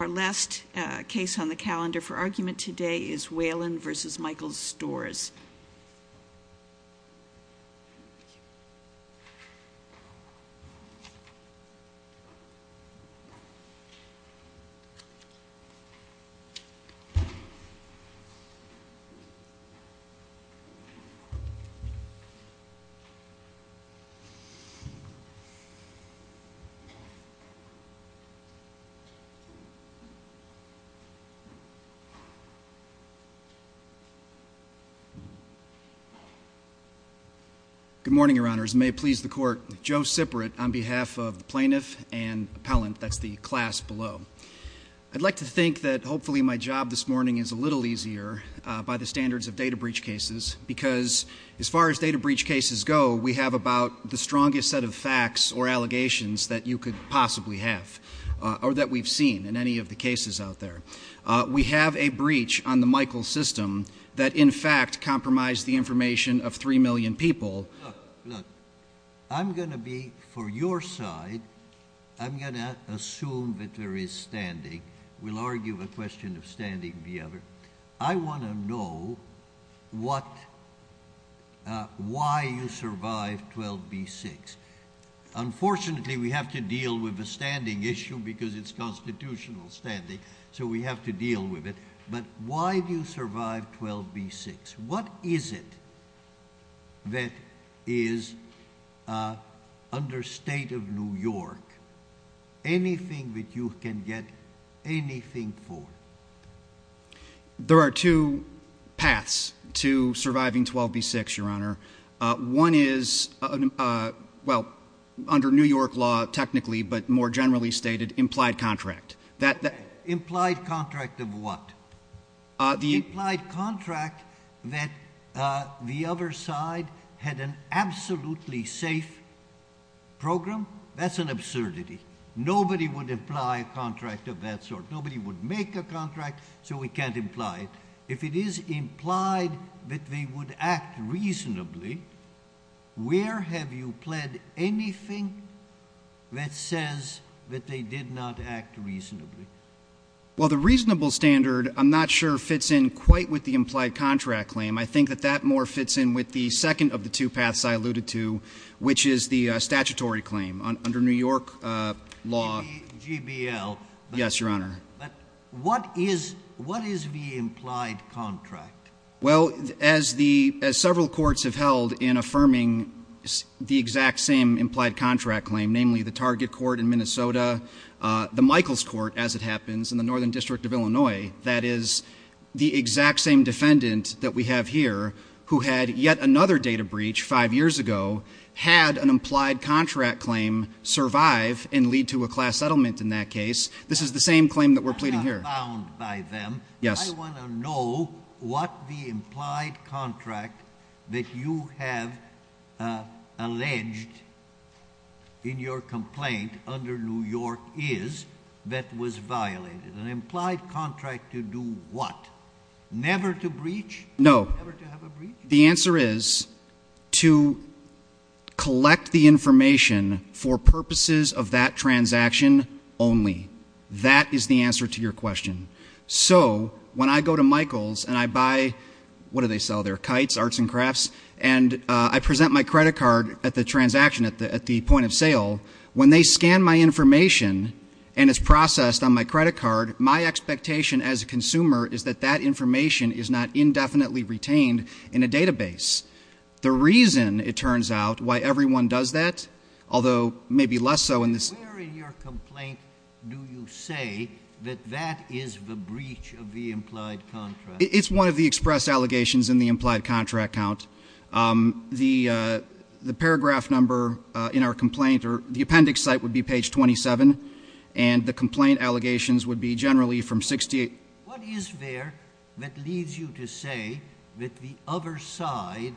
Our last case on the calendar for argument today is Walen v. Michael Stores. Good morning, Your Honors. May it please the Court, Joe Siprit on behalf of the Plaintiff and Appellant, that's the class below. I'd like to think that hopefully my job this morning is a little easier by the standards of data breach cases because as far as data breach cases go, we have about the strongest set of facts or allegations that you could possibly have or that we've seen in any of the cases out there. We have a breach on the Michael system that in fact compromised the information of 3 million people. Look, look, I'm going to be for your side, I'm going to assume that there is standing, we'll argue a question of standing together. I want to know why you survived 12b-6. Unfortunately, we have to deal with a standing issue because it's constitutional standing, so we have to deal with it. But why do you survive 12b-6? What is it that is under state of New York, anything that you can get anything for? There are two paths to surviving 12b-6, Your Honor. One is, well, under New York law technically, but more generally stated, implied contract. Implied contract of what? The implied contract that the other side had an absolutely safe program. That's an absurdity. Nobody would imply a contract of that sort. Nobody would make a contract, so we can't imply it. If it is implied that they would act reasonably, where have you pled anything that says that they did not act reasonably? Well, the reasonable standard, I'm not sure fits in quite with the implied contract claim. I think that that more fits in with the second of the two paths I alluded to, which is the statutory claim under New York law. GBL. Yes, Your Honor. But what is the implied contract? Well, as several courts have held in affirming the exact same implied contract claim, namely the Target Court in Minnesota, the Michaels Court, as it happens, in the Northern District of Illinois, that is the exact same defendant that we have here who had yet another data breach five years ago, had an implied contract claim survive and lead to a class settlement in that case. This is the same claim that we're pleading here. I'm not abound by them. Yes. I want to know what the implied contract that you have alleged in your complaint under New York is that was violated. An implied contract to do what? Never to breach? No. The answer is to collect the information for purposes of that transaction only. That is the answer to your question. So when I go to Michaels and I buy, what do they sell there, kites, arts and crafts, and I present my credit card at the transaction, at the point of sale, when they scan my information and it's processed on my credit card, my expectation as a consumer is that that information is not indefinitely retained in a database. The reason, it turns out, why everyone does that, although maybe less so in this— The breach of the implied contract. It's one of the express allegations in the implied contract count. The paragraph number in our complaint or the appendix site would be page 27, and the complaint allegations would be generally from 68— What is there that leads you to say that the other side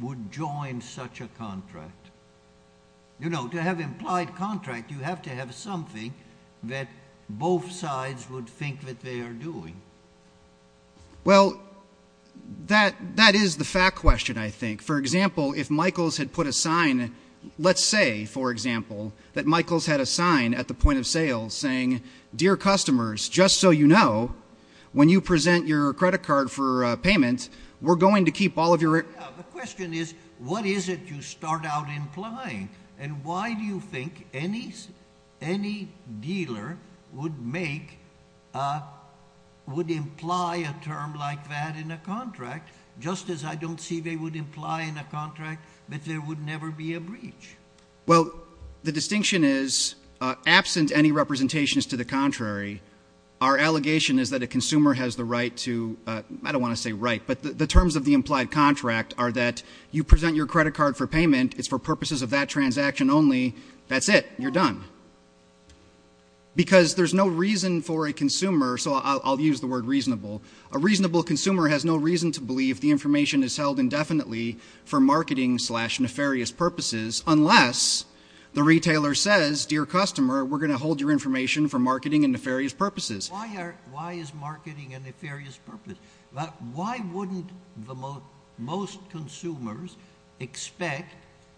would join such a contract? You know, to have implied contract, you have to have something that both sides would think that they are doing. Well, that is the fact question, I think. For example, if Michaels had put a sign, let's say, for example, that Michaels had a sign at the point of sale saying, Dear customers, just so you know, when you present your credit card for payment, we're going to keep all of your— The question is, what is it you start out implying, and why do you think any dealer would make—would imply a term like that in a contract, just as I don't see they would imply in a contract that there would never be a breach? Well, the distinction is, absent any representations to the contrary, our allegation is that a consumer has the right to—I don't want to say right, but the terms of the implied contract are that you present your credit card for payment. It's for purposes of that transaction only. That's it. You're done. Because there's no reason for a consumer—so I'll use the word reasonable. A reasonable consumer has no reason to believe the information is held indefinitely for marketing slash nefarious purposes unless the retailer says, Dear customer, we're going to hold your information for marketing and nefarious purposes. Why is marketing a nefarious purpose? Why wouldn't most consumers expect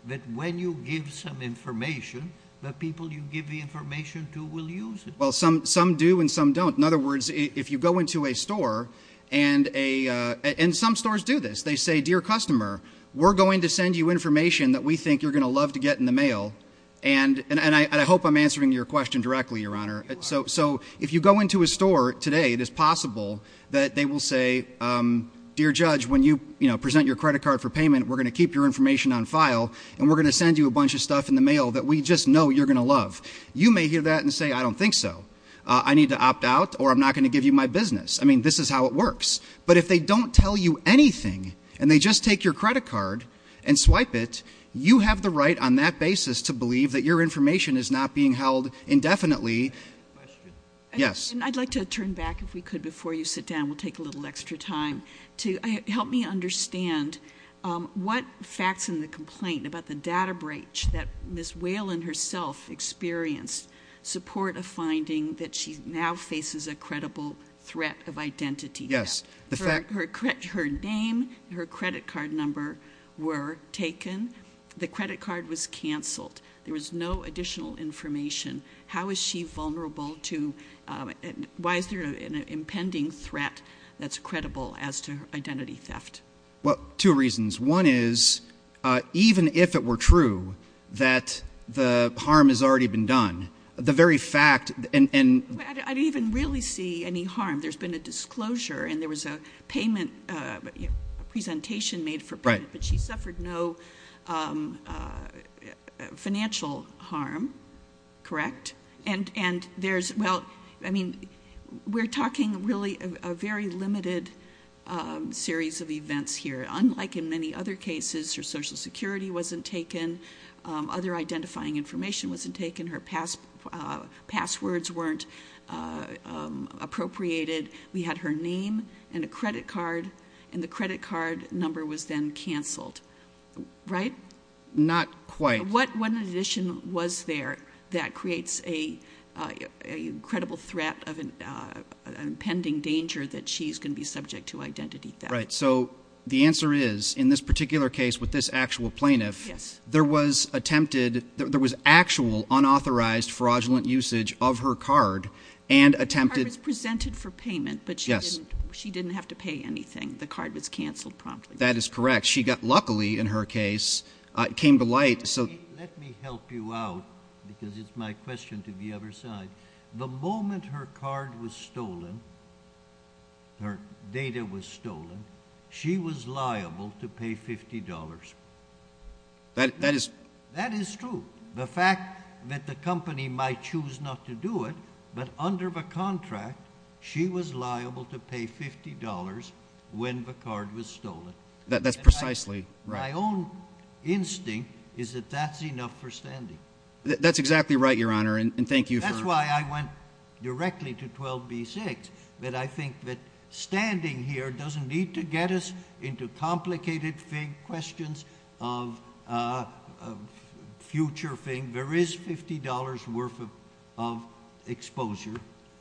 that when you give some information, the people you give the information to will use it? Well, some do and some don't. In other words, if you go into a store, and some stores do this. They say, Dear customer, we're going to send you information that we think you're going to love to get in the mail, and I hope I'm answering your question directly, Your Honor. So if you go into a store today, it is possible that they will say, Dear judge, when you present your credit card for payment, we're going to keep your information on file, and we're going to send you a bunch of stuff in the mail that we just know you're going to love. You may hear that and say, I don't think so. I need to opt out, or I'm not going to give you my business. I mean, this is how it works. But if they don't tell you anything, and they just take your credit card and swipe it, you have the right on that basis to believe that your information is not being held indefinitely Question? Yes. I'd like to turn back, if we could, before you sit down. We'll take a little extra time to help me understand what facts in the complaint about the data breach that Ms. Whalen herself experienced support a finding that she now faces a credible threat of identity theft. Yes. Her name, her credit card number were taken. The credit card was canceled. There was no additional information. How is she vulnerable to, and why is there an impending threat that's credible as to identity theft? Well, two reasons. One is, even if it were true that the harm has already been done, the very fact, and I didn't even really see any harm. There's been a disclosure, and there was a payment, a presentation made for payment, but she suffered no financial harm. Correct? And there's, well, I mean, we're talking really a very limited series of events here. Unlike in many other cases, her social security wasn't taken. Other identifying information wasn't taken. Her passwords weren't appropriated. We had her name and a credit card, and the credit card number was then canceled. Right? Not quite. What in addition was there that creates a credible threat of an impending danger that she's going to be subject to identity theft? Right. So the answer is, in this particular case with this actual plaintiff, there was attempted, there was actual unauthorized fraudulent usage of her card and attempted- The card was presented for payment, but she didn't have to pay anything. The card was canceled promptly. That is correct. Luckily, in her case, it came to light, so- Let me help you out, because it's my question to the other side. The moment her card was stolen, her data was stolen, she was liable to pay $50. That is true. The fact that the company might choose not to do it, but under the contract, she was liable to pay $50 when the card was stolen. That's precisely right. My own instinct is that that's enough for standing. That's exactly right, Your Honor, and thank you for- That's why I went directly to 12B6, that I think that standing here doesn't need to get us into complicated fake questions of future thing. There is $50 worth of exposure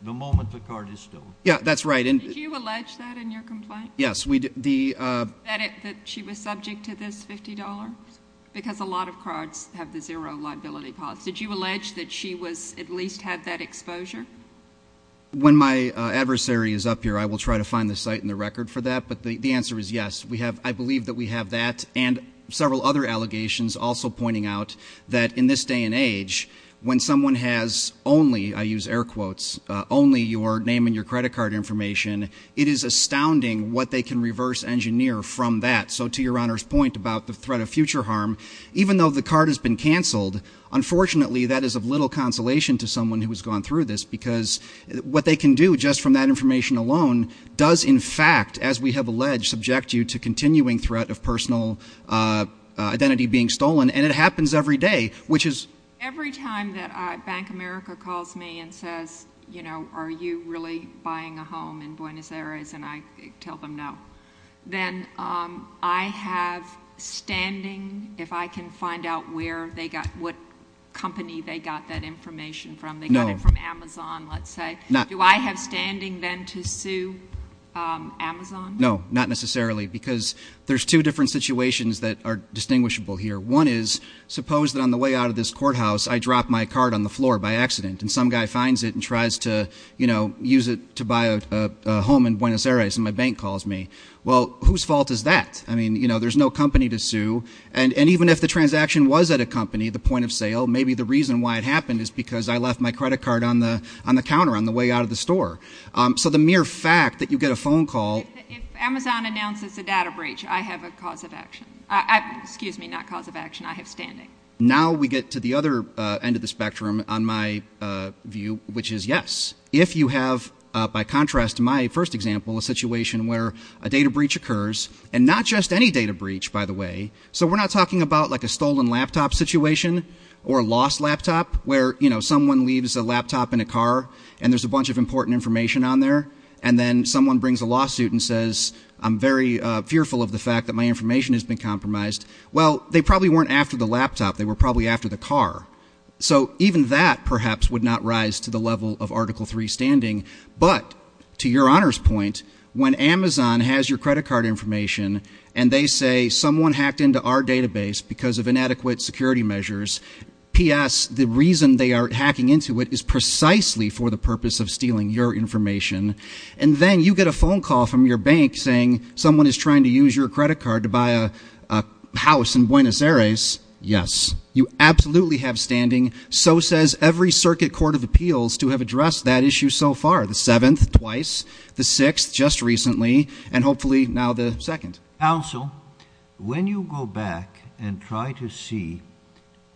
the moment the card is stolen. Yeah, that's right. Did you allege that in your complaint? Yes. That she was subject to this $50? Because a lot of cards have the zero liability clause. Did you allege that she at least had that exposure? When my adversary is up here, I will try to find the site and the record for that, but the answer is yes. I believe that we have that and several other allegations also pointing out that in this day and age, when someone has only, I use air quotes, only your name and your credit card information, it is astounding what they can reverse engineer from that. So to Your Honor's point about the threat of future harm, even though the card has been canceled, unfortunately that is of little consolation to someone who has gone through this because what they can do just from that information alone does in fact, as we have alleged, subject you to continuing threat of personal identity being stolen and it happens every day, which is- Every time that Bank America calls me and says, are you really buying a home in Buenos Aires? And I tell them no. Then I have standing, if I can find out where they got, what company they got that information from, they got it from Amazon, let's say. Do I have standing then to sue Amazon? No, not necessarily because there's two different situations that are distinguishable here. One is, suppose that on the way out of this courthouse, I dropped my card on the floor by accident and some guy finds it and tries to use it to buy a home in Buenos Aires and my bank calls me. Well, whose fault is that? I mean, there's no company to sue. And even if the transaction was at a company, the point of sale, maybe the reason why it happened is because I left my credit card on the counter on the way out of the store. So the mere fact that you get a phone call- If Amazon announces a data breach, I have a cause of action. Excuse me, not cause of action, I have standing. Now we get to the other end of the spectrum on my view, which is yes. If you have, by contrast to my first example, a situation where a data breach occurs, and not just any data breach, by the way, so we're not talking about like a stolen laptop situation or a lost laptop where someone leaves a laptop in a car and there's a bunch of important information on there and then someone brings a lawsuit and says, I'm very fearful of the fact that my information has been compromised. Well, they probably weren't after the laptop, they were probably after the car. So even that perhaps would not rise to the level of Article 3 standing. But to your honor's point, when Amazon has your credit card information and they say someone hacked into our database because of inadequate security measures. P.S. the reason they are hacking into it is precisely for the purpose of stealing your information. And then you get a phone call from your bank saying someone is trying to use your credit card to buy a house in Buenos Aires. Yes, you absolutely have standing. So says every circuit court of appeals to have addressed that issue so far. The seventh, twice, the sixth, just recently, and hopefully now the second. Counsel, when you go back and try to see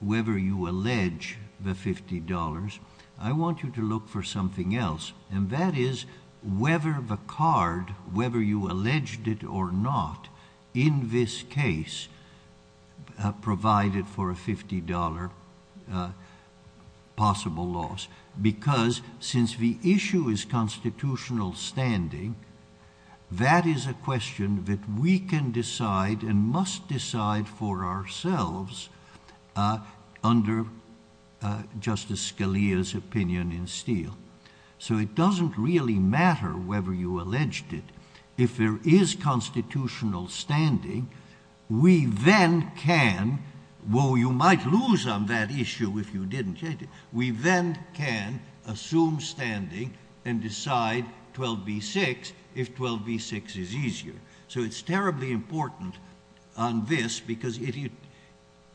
whether you allege the $50, I want you to look for something else. And that is whether the card, whether you alleged it or not, in this case provided for a $50 possible loss. Because since the issue is constitutional standing, that is a question that we can decide and must decide for ourselves under Justice Scalia's opinion in Steele. So it doesn't really matter whether you alleged it. If there is constitutional standing, we then can, well, you might lose on that issue if you didn't change it. We then can assume standing and decide 12B6 if 12B6 is easier. So it's terribly important on this because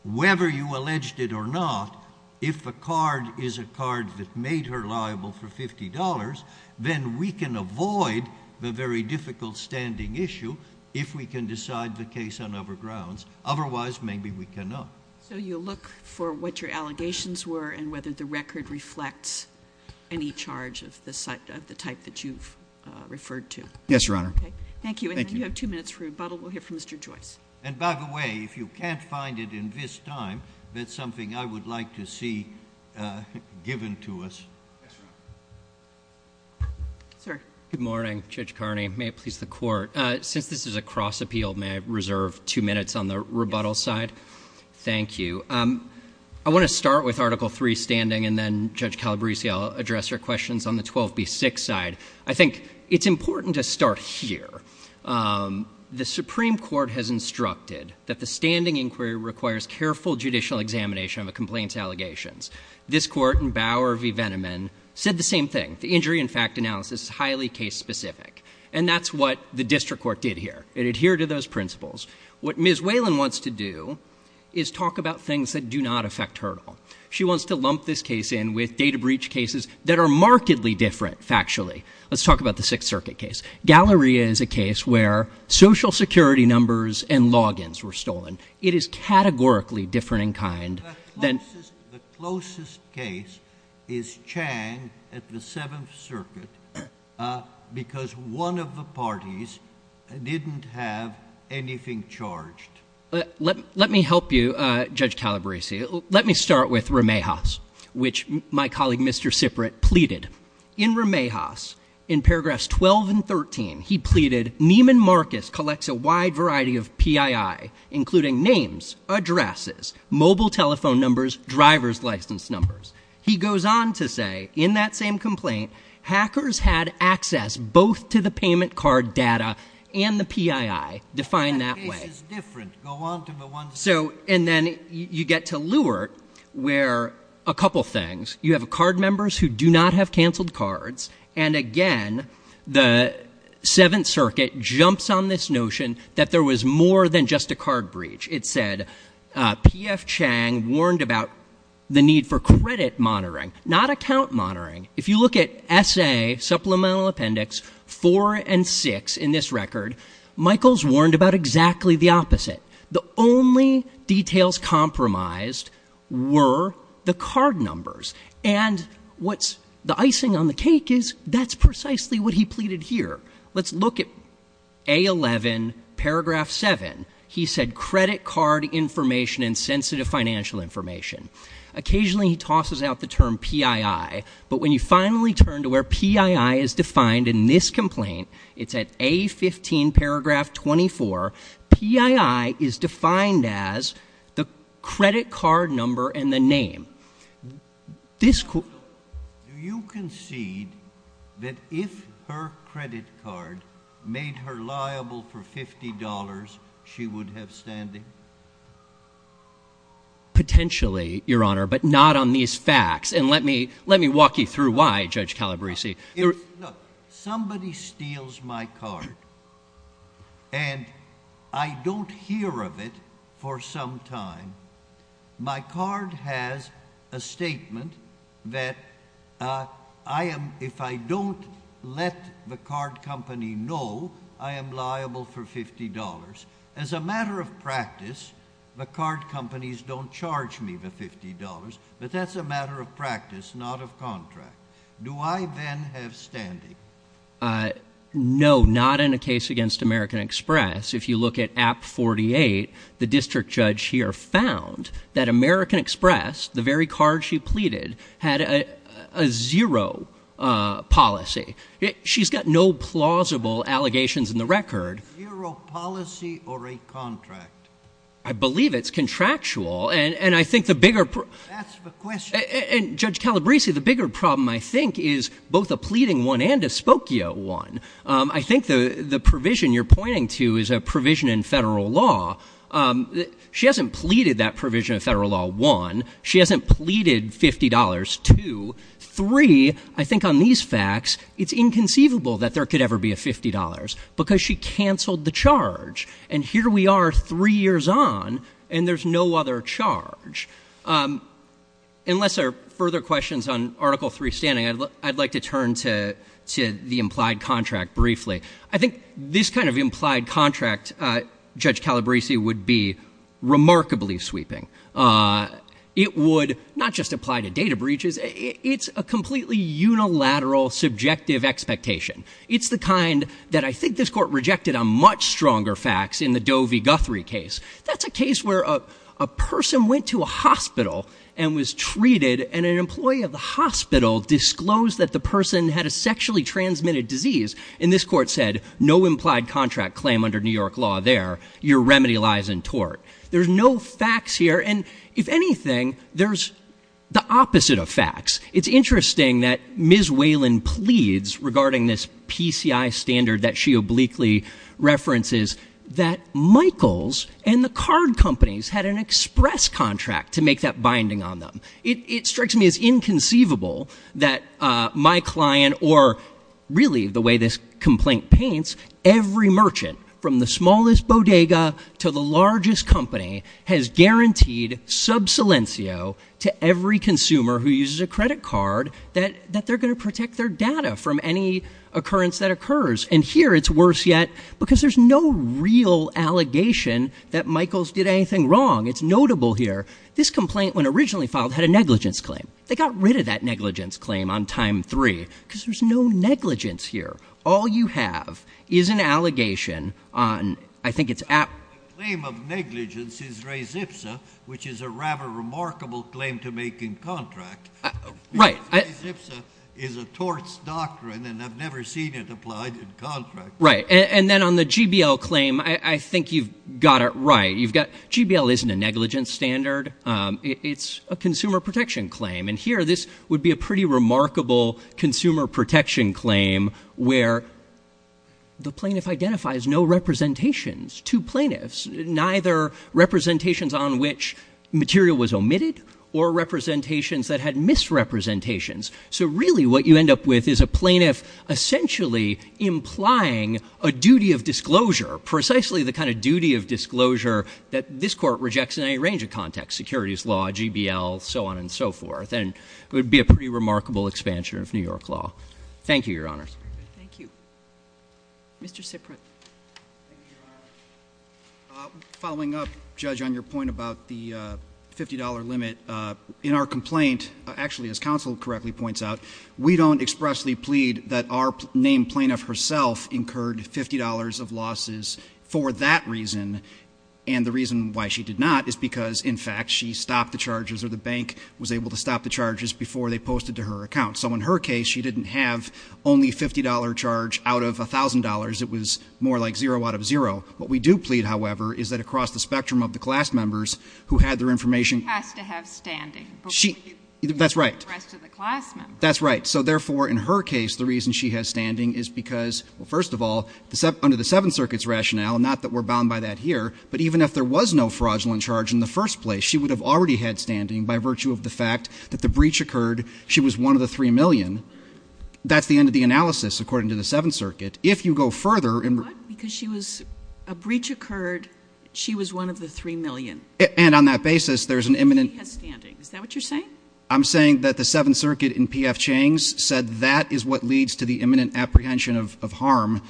whether you alleged it or not, if a card is a card that made her liable for $50, then we can avoid the very difficult standing issue if we can decide the case on other grounds. Otherwise, maybe we cannot. So you'll look for what your allegations were and whether the record reflects any charge of the type that you've referred to. Yes, Your Honor. Thank you. You have two minutes for rebuttal. We'll hear from Mr. Joyce. And by the way, if you can't find it in this time, that's something I would like to see given to us. Sir. Good morning, Judge Carney. May it please the court. Since this is a cross-appeal, may I reserve two minutes on the rebuttal side? Thank you. I want to start with Article III standing, and then, Judge Calabresi, I'll address your questions on the 12B6 side. I think it's important to start here. The Supreme Court has instructed that the standing inquiry requires careful judicial examination of a complaint's allegations. This court in Bauer v. Veneman said the same thing. Injury and fact analysis is highly case-specific. And that's what the district court did here. It adhered to those principles. What Ms. Whalen wants to do is talk about things that do not affect Hertel. She wants to lump this case in with data breach cases that are markedly different factually. Let's talk about the Sixth Circuit case. Galleria is a case where social security numbers and logins were stolen. It is categorically different in kind. The closest case is Chang at the Seventh Circuit because one of the parties didn't have anything charged. Let me help you, Judge Calabresi. Let me start with Ramihas, which my colleague Mr. Siprit pleaded. In Ramihas, in paragraphs 12 and 13, he pleaded, Neiman Marcus collects a wide variety of PII, including names, addresses, mobile telephone numbers, driver's license numbers. He goes on to say, in that same complaint, hackers had access both to the payment card data and the PII, defined that way. That case is different. Go on to the one... So, and then you get to Lewert, where a couple things. You have card members who do not have canceled cards. And again, the Seventh Circuit jumps on this notion that there was more than just a card breach. It said P.F. Chang warned about the need for credit monitoring, not account monitoring. If you look at S.A., Supplemental Appendix 4 and 6 in this record, Michaels warned about exactly the opposite. The only details compromised were the card numbers. And what's the icing on the cake is that's precisely what he pleaded here. Let's look at A11, Paragraph 7. He said credit card information and sensitive financial information. Occasionally, he tosses out the term PII, but when you finally turn to where PII is defined in this complaint, it's at A15, Paragraph 24, PII is defined as the credit card number and the name. This court... Do you concede that if her credit card made her liable for $50, she would have standing? Potentially, Your Honor, but not on these facts. And let me walk you through why, Judge Calabresi. Look, somebody steals my card and I don't hear of it for some time. My card has a statement that if I don't let the card company know I am liable for $50. As a matter of practice, the card companies don't charge me the $50, but that's a matter of practice, not of contract. Do I then have standing? No, not in a case against American Express. If you look at App 48, the district judge here found that American Express, the very card she pleaded, had a zero policy. She's got no plausible allegations in the record. Zero policy or a contract? I believe it's contractual, and I think the bigger... Ask the question. And Judge Calabresi, the bigger problem, I think, is both a pleading one and a spokio one. I think the provision you're pointing to is a provision in federal law. She hasn't pleaded that provision of federal law, one. She hasn't pleaded $50, two. Three, I think on these facts, it's inconceivable that there could ever be a $50, because she canceled the charge. And here we are three years on, and there's no other charge. Unless there are further questions on Article III standing, I'd like to turn to the implied contract briefly. I think this kind of implied contract, Judge Calabresi, would be remarkably sweeping. It would not just apply to data breaches. It's a completely unilateral, subjective expectation. It's the kind that I think this Court rejected on much stronger facts in the Doe v. Guthrie case. That's a case where a person went to a hospital and was treated, and an employee of the hospital disclosed that the person had a sexually transmitted disease. And this Court said, no implied contract claim under New York law there. Your remedy lies in tort. There's no facts here. And if anything, there's the opposite of facts. It's interesting that Ms. Whalen pleads regarding this PCI standard that she obliquely references, that Michaels and the card companies had an express contract to make that binding on them. It strikes me as inconceivable that my client, or really the way this complaint paints, every merchant, from the smallest bodega to the largest company, has guaranteed sub silencio to every consumer who uses a credit card that they're going to protect their data from any occurrence that occurs. And here it's worse yet, because there's no real allegation that Michaels did anything wrong. It's notable here. This complaint, when originally filed, had a negligence claim. They got rid of that negligence claim on time three, because there's no negligence here. All you have is an allegation on, I think it's app- The claim of negligence is res ipsa, which is a rather remarkable claim to make in contract. Right. Res ipsa is a torts doctrine, and I've never seen it applied in contract. Right. And then on the GBL claim, I think you've got it right. GBL isn't a negligence standard. It's a consumer protection claim. And here, this would be a pretty remarkable consumer protection claim, where the plaintiff identifies no representations to plaintiffs, neither representations on which material was omitted, or representations that had misrepresentations. So really what you end up with is a plaintiff essentially implying a duty of disclosure, precisely the kind of duty of disclosure that this court rejects in any range of context, securities law, GBL, so on and so forth. And it would be a pretty remarkable expansion of New York law. Thank you, Your Honors. Thank you. Mr. Ciprut. Following up, Judge, on your point about the $50 limit, in our complaint, actually, as counsel correctly points out, we don't expressly plead that our named plaintiff herself incurred $50 of losses for that reason. And the reason why she did not is because, in fact, she stopped the charges, or the bank was able to stop the charges before they posted to her account. So in her case, she didn't have only a $50 charge out of $1,000. It was more like zero out of zero. What we do plead, however, is that across the spectrum of the class members who had their information- She has to have standing. That's right. The rest of the class members. That's right. So therefore, in her case, the reason she has standing is because, well, first of all, under the Seventh Circuit's rationale, not that we're bound by that here, but even if there was no fraudulent charge in the first place, she would have already had standing by virtue of the fact that the breach occurred. She was one of the $3 million. That's the end of the analysis, according to the Seventh Circuit. If you go further- What? Because she was- a breach occurred. She was one of the $3 million. And on that basis, there's an imminent- She has standing. Is that what you're saying? I'm saying that the Seventh Circuit, in P.F. Chang's, said that is what leads to the imminent apprehension of harm.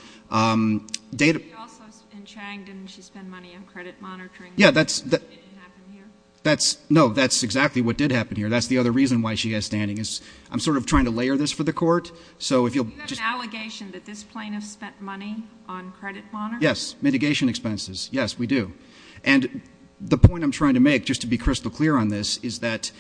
Data- Also, in Chang, didn't she spend money on credit monitoring? Yeah, that's- It didn't happen here? That's- no, that's exactly what did happen here. That's the other reason why she has standing is- I'm sort of trying to layer this for the court. So if you'll- Do you have an allegation that this plaintiff spent money on credit monitoring? Yes. Mitigation expenses. Yes, we do. And the point I'm trying to make, just to be crystal clear on this, is that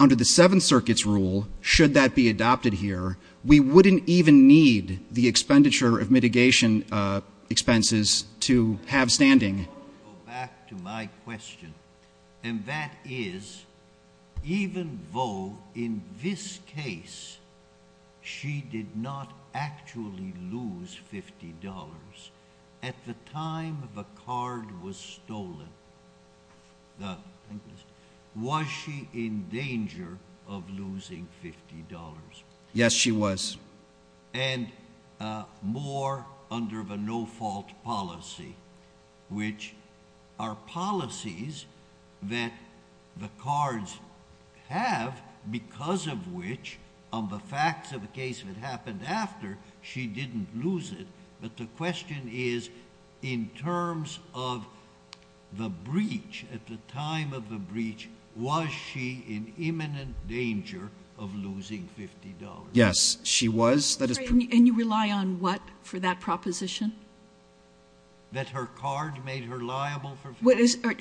under the Seventh Circuit's rule, should that be adopted here, we wouldn't even need the expenditure of mitigation expenses to have standing. I want to go back to my question. And that is, even though, in this case, she did not actually lose $50, at the time the card was stolen, the bank list, was she in danger of losing $50? Yes, she was. And more under the no-fault policy, which are policies that the cards have, because of which, on the facts of the case that happened after, she didn't lose it. But the question is, in terms of the breach, at the time of the breach, was she in imminent danger of losing $50? Yes, she was. And you rely on what for that proposition? That her card made her liable for-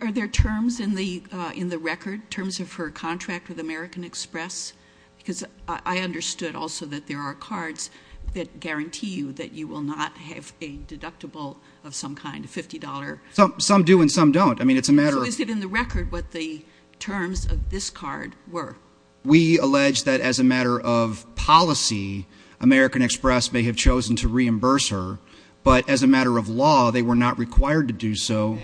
Are there terms in the record, terms of her contract with American Express? Because I understood also that there are cards that guarantee you that you will not have a deductible of some kind, a $50- Some do and some don't. I mean, it's a matter of- So is it in the record what the terms of this card were? We allege that as a matter of policy, American Express may have chosen to reimburse her, but as a matter of law, they were not required to do so.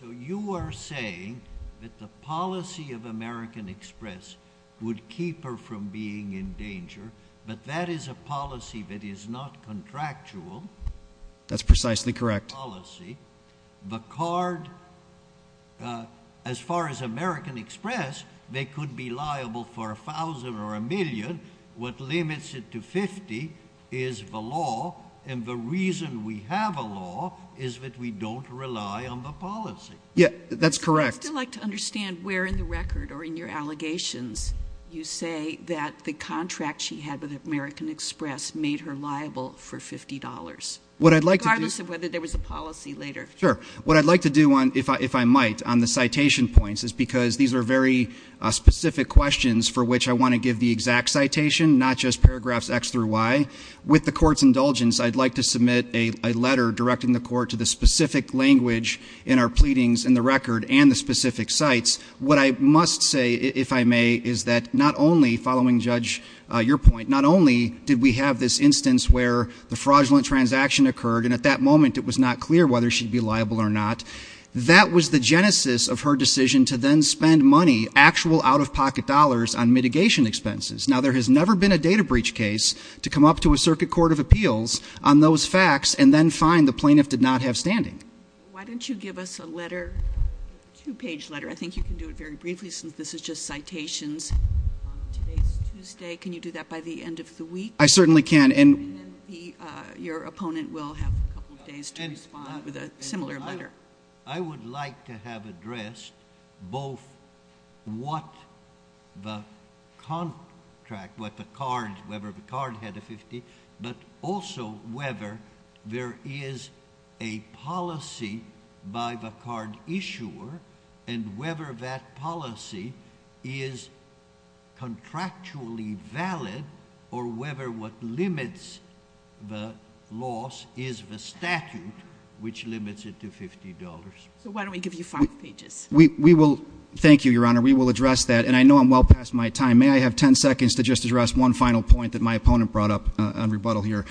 So you are saying that the policy of American Express would keep her from being in danger, but that is a policy that is not contractual? That's precisely correct. ...policy. The card, as far as American Express, they could be liable for $1,000 or $1,000,000. What limits it to $50 is the law, and the reason we have a law is that we don't rely on the policy. Yeah, that's correct. I'd still like to understand where in the record or in your allegations you say that the contract she had with American Express made her liable for $50, regardless of whether there was a policy later. Sure. What I'd like to do if I might on the citation points is because these are very specific questions for which I want to give the exact citation, not just paragraphs X through Y. With the court's indulgence, I'd like to submit a letter directing the court to the specific language in our pleadings in the record and the specific sites. What I must say, if I may, is that not only, following, Judge, your point, not only did we have this instance where the fraudulent transaction occurred, and at that moment it was not clear whether she'd be liable or not, that was the genesis of her decision to then spend money, actual out-of-pocket dollars, on mitigation expenses. Now, there has never been a data breach case to come up to a circuit court of appeals on those facts and then find the plaintiff did not have standing. Why don't you give us a letter, a two-page letter, I think you can do it very briefly, since this is just citations, on today's Tuesday. Can you do that by the end of the week? I certainly can. And then your opponent will have a couple of days to respond with a similar letter. I would like to have addressed both what the contract, what the card, whether the card had a 50, but also whether there is a policy by the card issuer and whether that policy is contractually valid or whether what limits the loss is the statute, which limits it to $50. So why don't we give you five pages? We will, thank you, Your Honor, we will address that. And I know I'm well past my time. May I have 10 seconds to just address one final point that my opponent brought up on rebuttal here?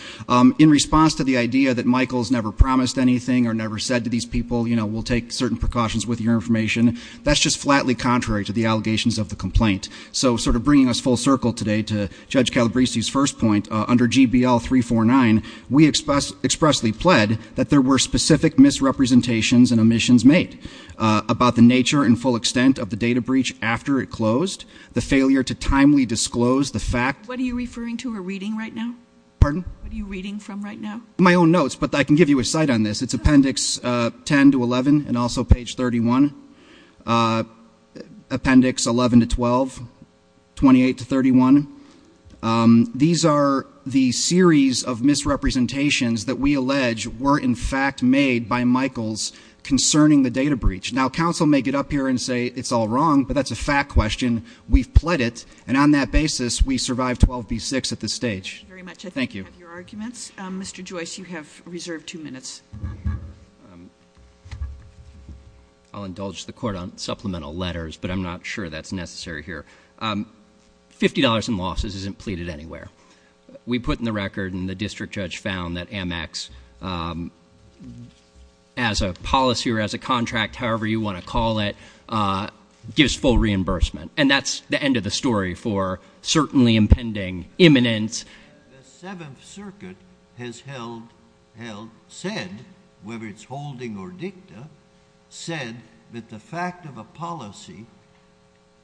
In response to the idea that Michael's never promised anything or never said to these people, we'll take certain precautions with your information. That's just flatly contrary to the allegations of the complaint. So sort of bringing us full circle today to Judge Calabresi's first point, under GBL 349, we expressly pled that there were specific misrepresentations and omissions made about the nature and full extent of the data breach after it closed, the failure to timely disclose the fact- What are you referring to or reading right now? Pardon? What are you reading from right now? My own notes, but I can give you a cite on this. It's appendix 10 to 11 and also page 31. Appendix 11 to 12, 28 to 31. These are the series of misrepresentations that we allege were in fact made by Michael's concerning the data breach. Now, counsel may get up here and say it's all wrong, but that's a fact question. We've pled it, and on that basis, we survived 12B6 at this stage. Thank you very much. I think we have your arguments. Mr. Joyce, you have reserved two minutes. I'll indulge the court on supplemental letters, but I'm not sure that's necessary here. $50 in losses isn't pleaded anywhere. We put in the record, and the district judge found, that Amex, as a policy or as a contract, however you want to call it, gives full reimbursement. And that's the end of the story for certainly impending imminence. The Seventh Circuit has held, said, whether it's holding or dicta, said that the fact of a policy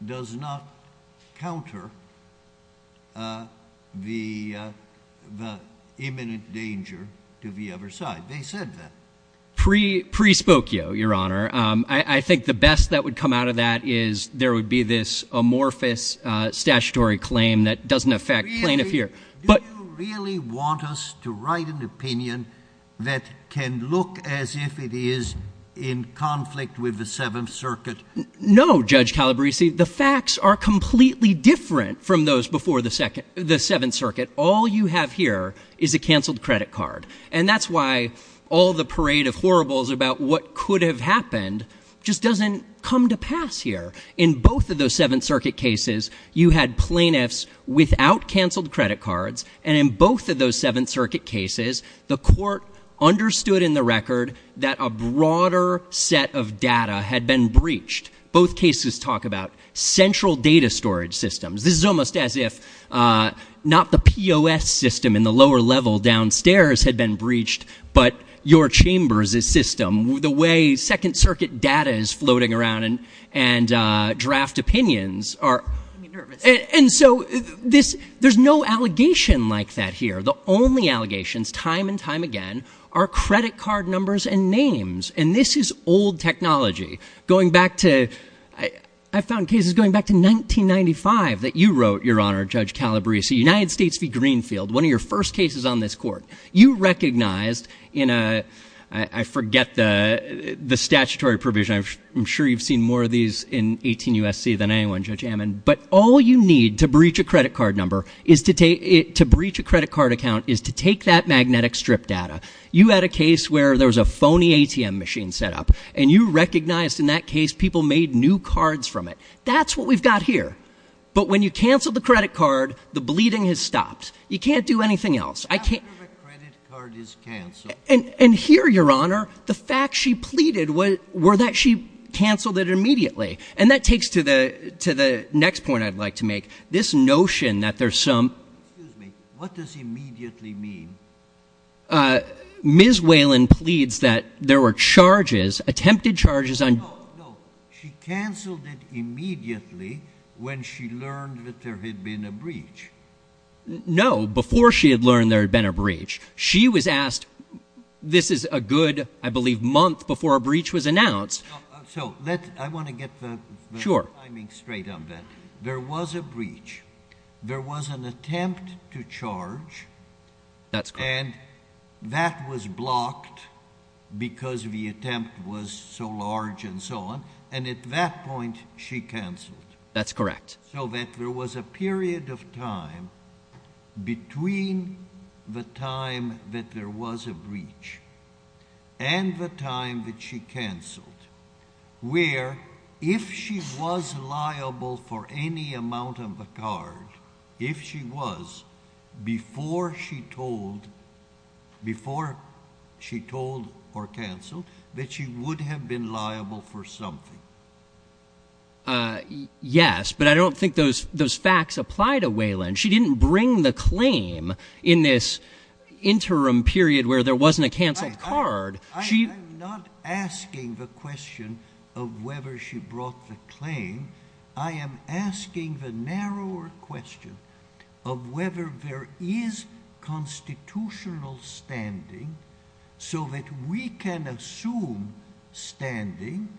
does not counter the imminent danger to the other side. They said that. Prespokeo, Your Honor. I think the best that would come out of that is there would be this amorphous statutory claim that doesn't affect plaintiff here. Do you really want us to write an opinion that can look as if it is in conflict with the Seventh Circuit? No, Judge Calabresi. The facts are completely different from those before the Seventh Circuit. All you have here is a canceled credit card. And that's why all the parade of horribles about what could have happened just doesn't come to pass here. In both of those Seventh Circuit cases, you had plaintiffs without canceled credit cards. And in both of those Seventh Circuit cases, the court understood in the record that a broader set of data had been breached. Both cases talk about central data storage systems. This is almost as if not the POS system in the lower level downstairs had been breached, but your chambers' system, the way Second Circuit data is floating around and draft opinions are... I'm nervous. And so there's no allegation like that here. The only allegations, time and time again, are credit card numbers and names. And this is old technology going back to... I found cases going back to 1995 that you wrote, Your Honor, Judge Calabresi, United States v. Greenfield, one of your first cases on this court. You recognized in a... I forget the statutory provision. I'm sure you've seen more of these in 18 U.S.C. than anyone, Judge Amman. But all you need to breach a credit card number is to take it... To breach a credit card account is to take that magnetic strip data. You had a case where there was a phony ATM machine set up, and you recognized in that case people made new cards from it. That's what we've got here. But when you cancel the credit card, the bleeding has stopped. You can't do anything else. I can't... After the credit card is canceled... And here, Your Honor, the facts she pleaded were that she canceled it immediately. And that takes to the next point I'd like to make. This notion that there's some... Excuse me. What does immediately mean? Ms. Whalen pleads that there were charges, attempted charges on... No, no. She canceled it immediately when she learned that there had been a breach. No, before she had learned there had been a breach. She was asked, this is a good, I believe, month before a breach was announced. So let's... I want to get the timing straight on that. There was a breach. There was an attempt to charge. That's correct. And that was blocked because the attempt was so large and so on. And at that point, she canceled. That's correct. So that there was a period of time between the time that there was a breach and the time that she canceled, where if she was liable for any amount of a card, if she was, before she told... Before she told or canceled that she would have been liable for something. Yes, but I don't think those facts apply to Whalen. She didn't bring the claim in this interim period where there wasn't a canceled card. I'm not asking the question of whether she brought the claim. I am asking the narrower question of whether there is constitutional standing so that we can assume standing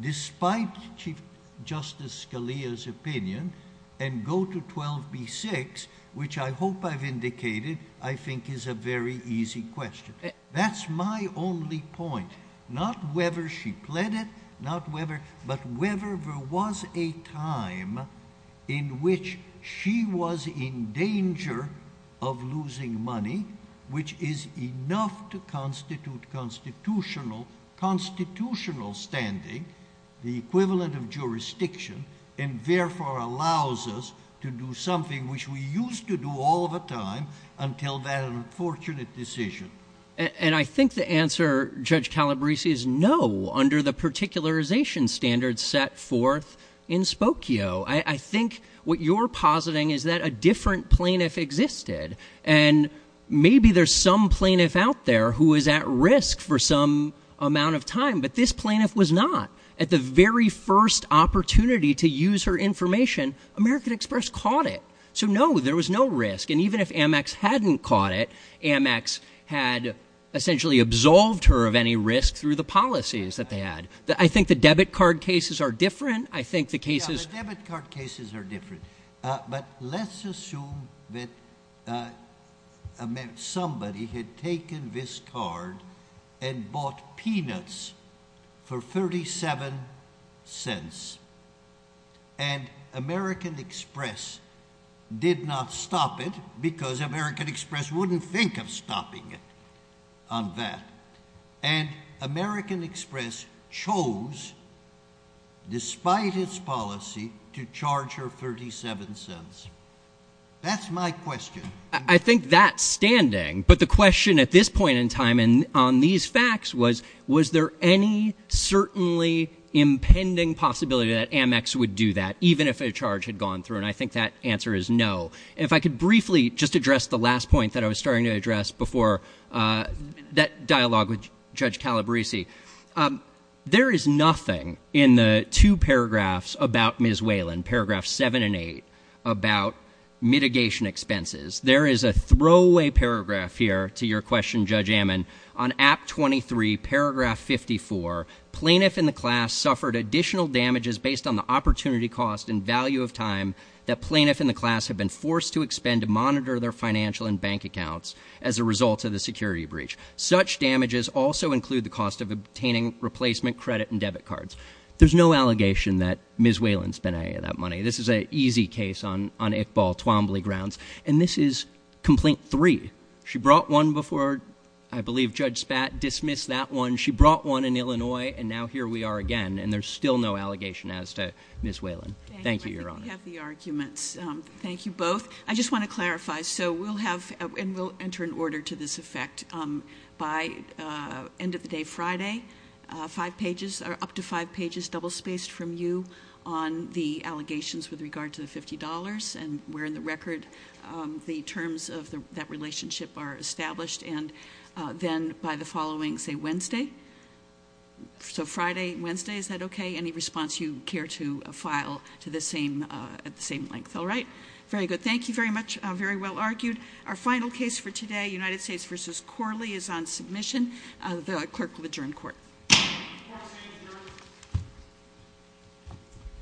despite Chief Justice Scalia's opinion and go to 12b-6, which I hope I've indicated, I think is a very easy question. That's my only point. Not whether she pled it, not whether, but whether there was a time in which she was in danger of losing money, which is enough to constitute constitutional standing, the equivalent of jurisdiction, and therefore allows us to do something which we used to do all of the time until that unfortunate decision. And I think the answer, Judge Calabresi, is no under the particularization standards set forth in Spokio. I think what you're positing is that a different plaintiff existed and maybe there's some plaintiff out there who was at risk for some amount of time, but this plaintiff was not. At the very first opportunity to use her information, American Express caught it. So no, there was no risk. And even if Amex hadn't caught it, Amex had essentially absolved her of any risk through the policies that they had. I think the debit card cases are different. I think the cases... Yeah, the debit card cases are different. But let's assume that somebody had taken this card and bought peanuts for 37 cents. And American Express did not stop it because American Express wouldn't think of stopping it on that. And American Express chose, despite its policy, to charge her 37 cents. That's my question. I think that's standing. But the question at this point in time, on these facts was, was there any certainly impending possibility that Amex would do that, even if a charge had gone through? And I think that answer is no. If I could briefly just address the last point that I was starting to address before that dialogue with Judge Calabresi. There is nothing in the two paragraphs about Ms. Whalen, paragraph seven and eight, about mitigation expenses. There is a throwaway paragraph here to your question, on Act 23, paragraph 54, plaintiff and the class suffered additional damages based on the opportunity cost and value of time that plaintiff and the class have been forced to expend to monitor their financial and bank accounts as a result of the security breach. Such damages also include the cost of obtaining replacement credit and debit cards. There's no allegation that Ms. Whalen spent any of that money. This is an easy case on Iqbal Twombly grounds. And this is complaint three. She brought one before, I believe, Judge Spat dismissed that one. She brought one in Illinois, and now here we are again. And there's still no allegation as to Ms. Whalen. Thank you, Your Honor. We have the arguments. Thank you both. I just want to clarify. So we'll have, and we'll enter an order to this effect by end of the day Friday, five pages, or up to five pages, double-spaced from you on the allegations with regard to the $50. And we're in the record, the terms of that relationship are established. And then by the following, say, Wednesday. So Friday, Wednesday, is that okay? Any response you care to file at the same length. All right. Very good. Thank you very much. Very well argued. Our final case for today, United States v. Corley is on submission. The clerk will adjourn court.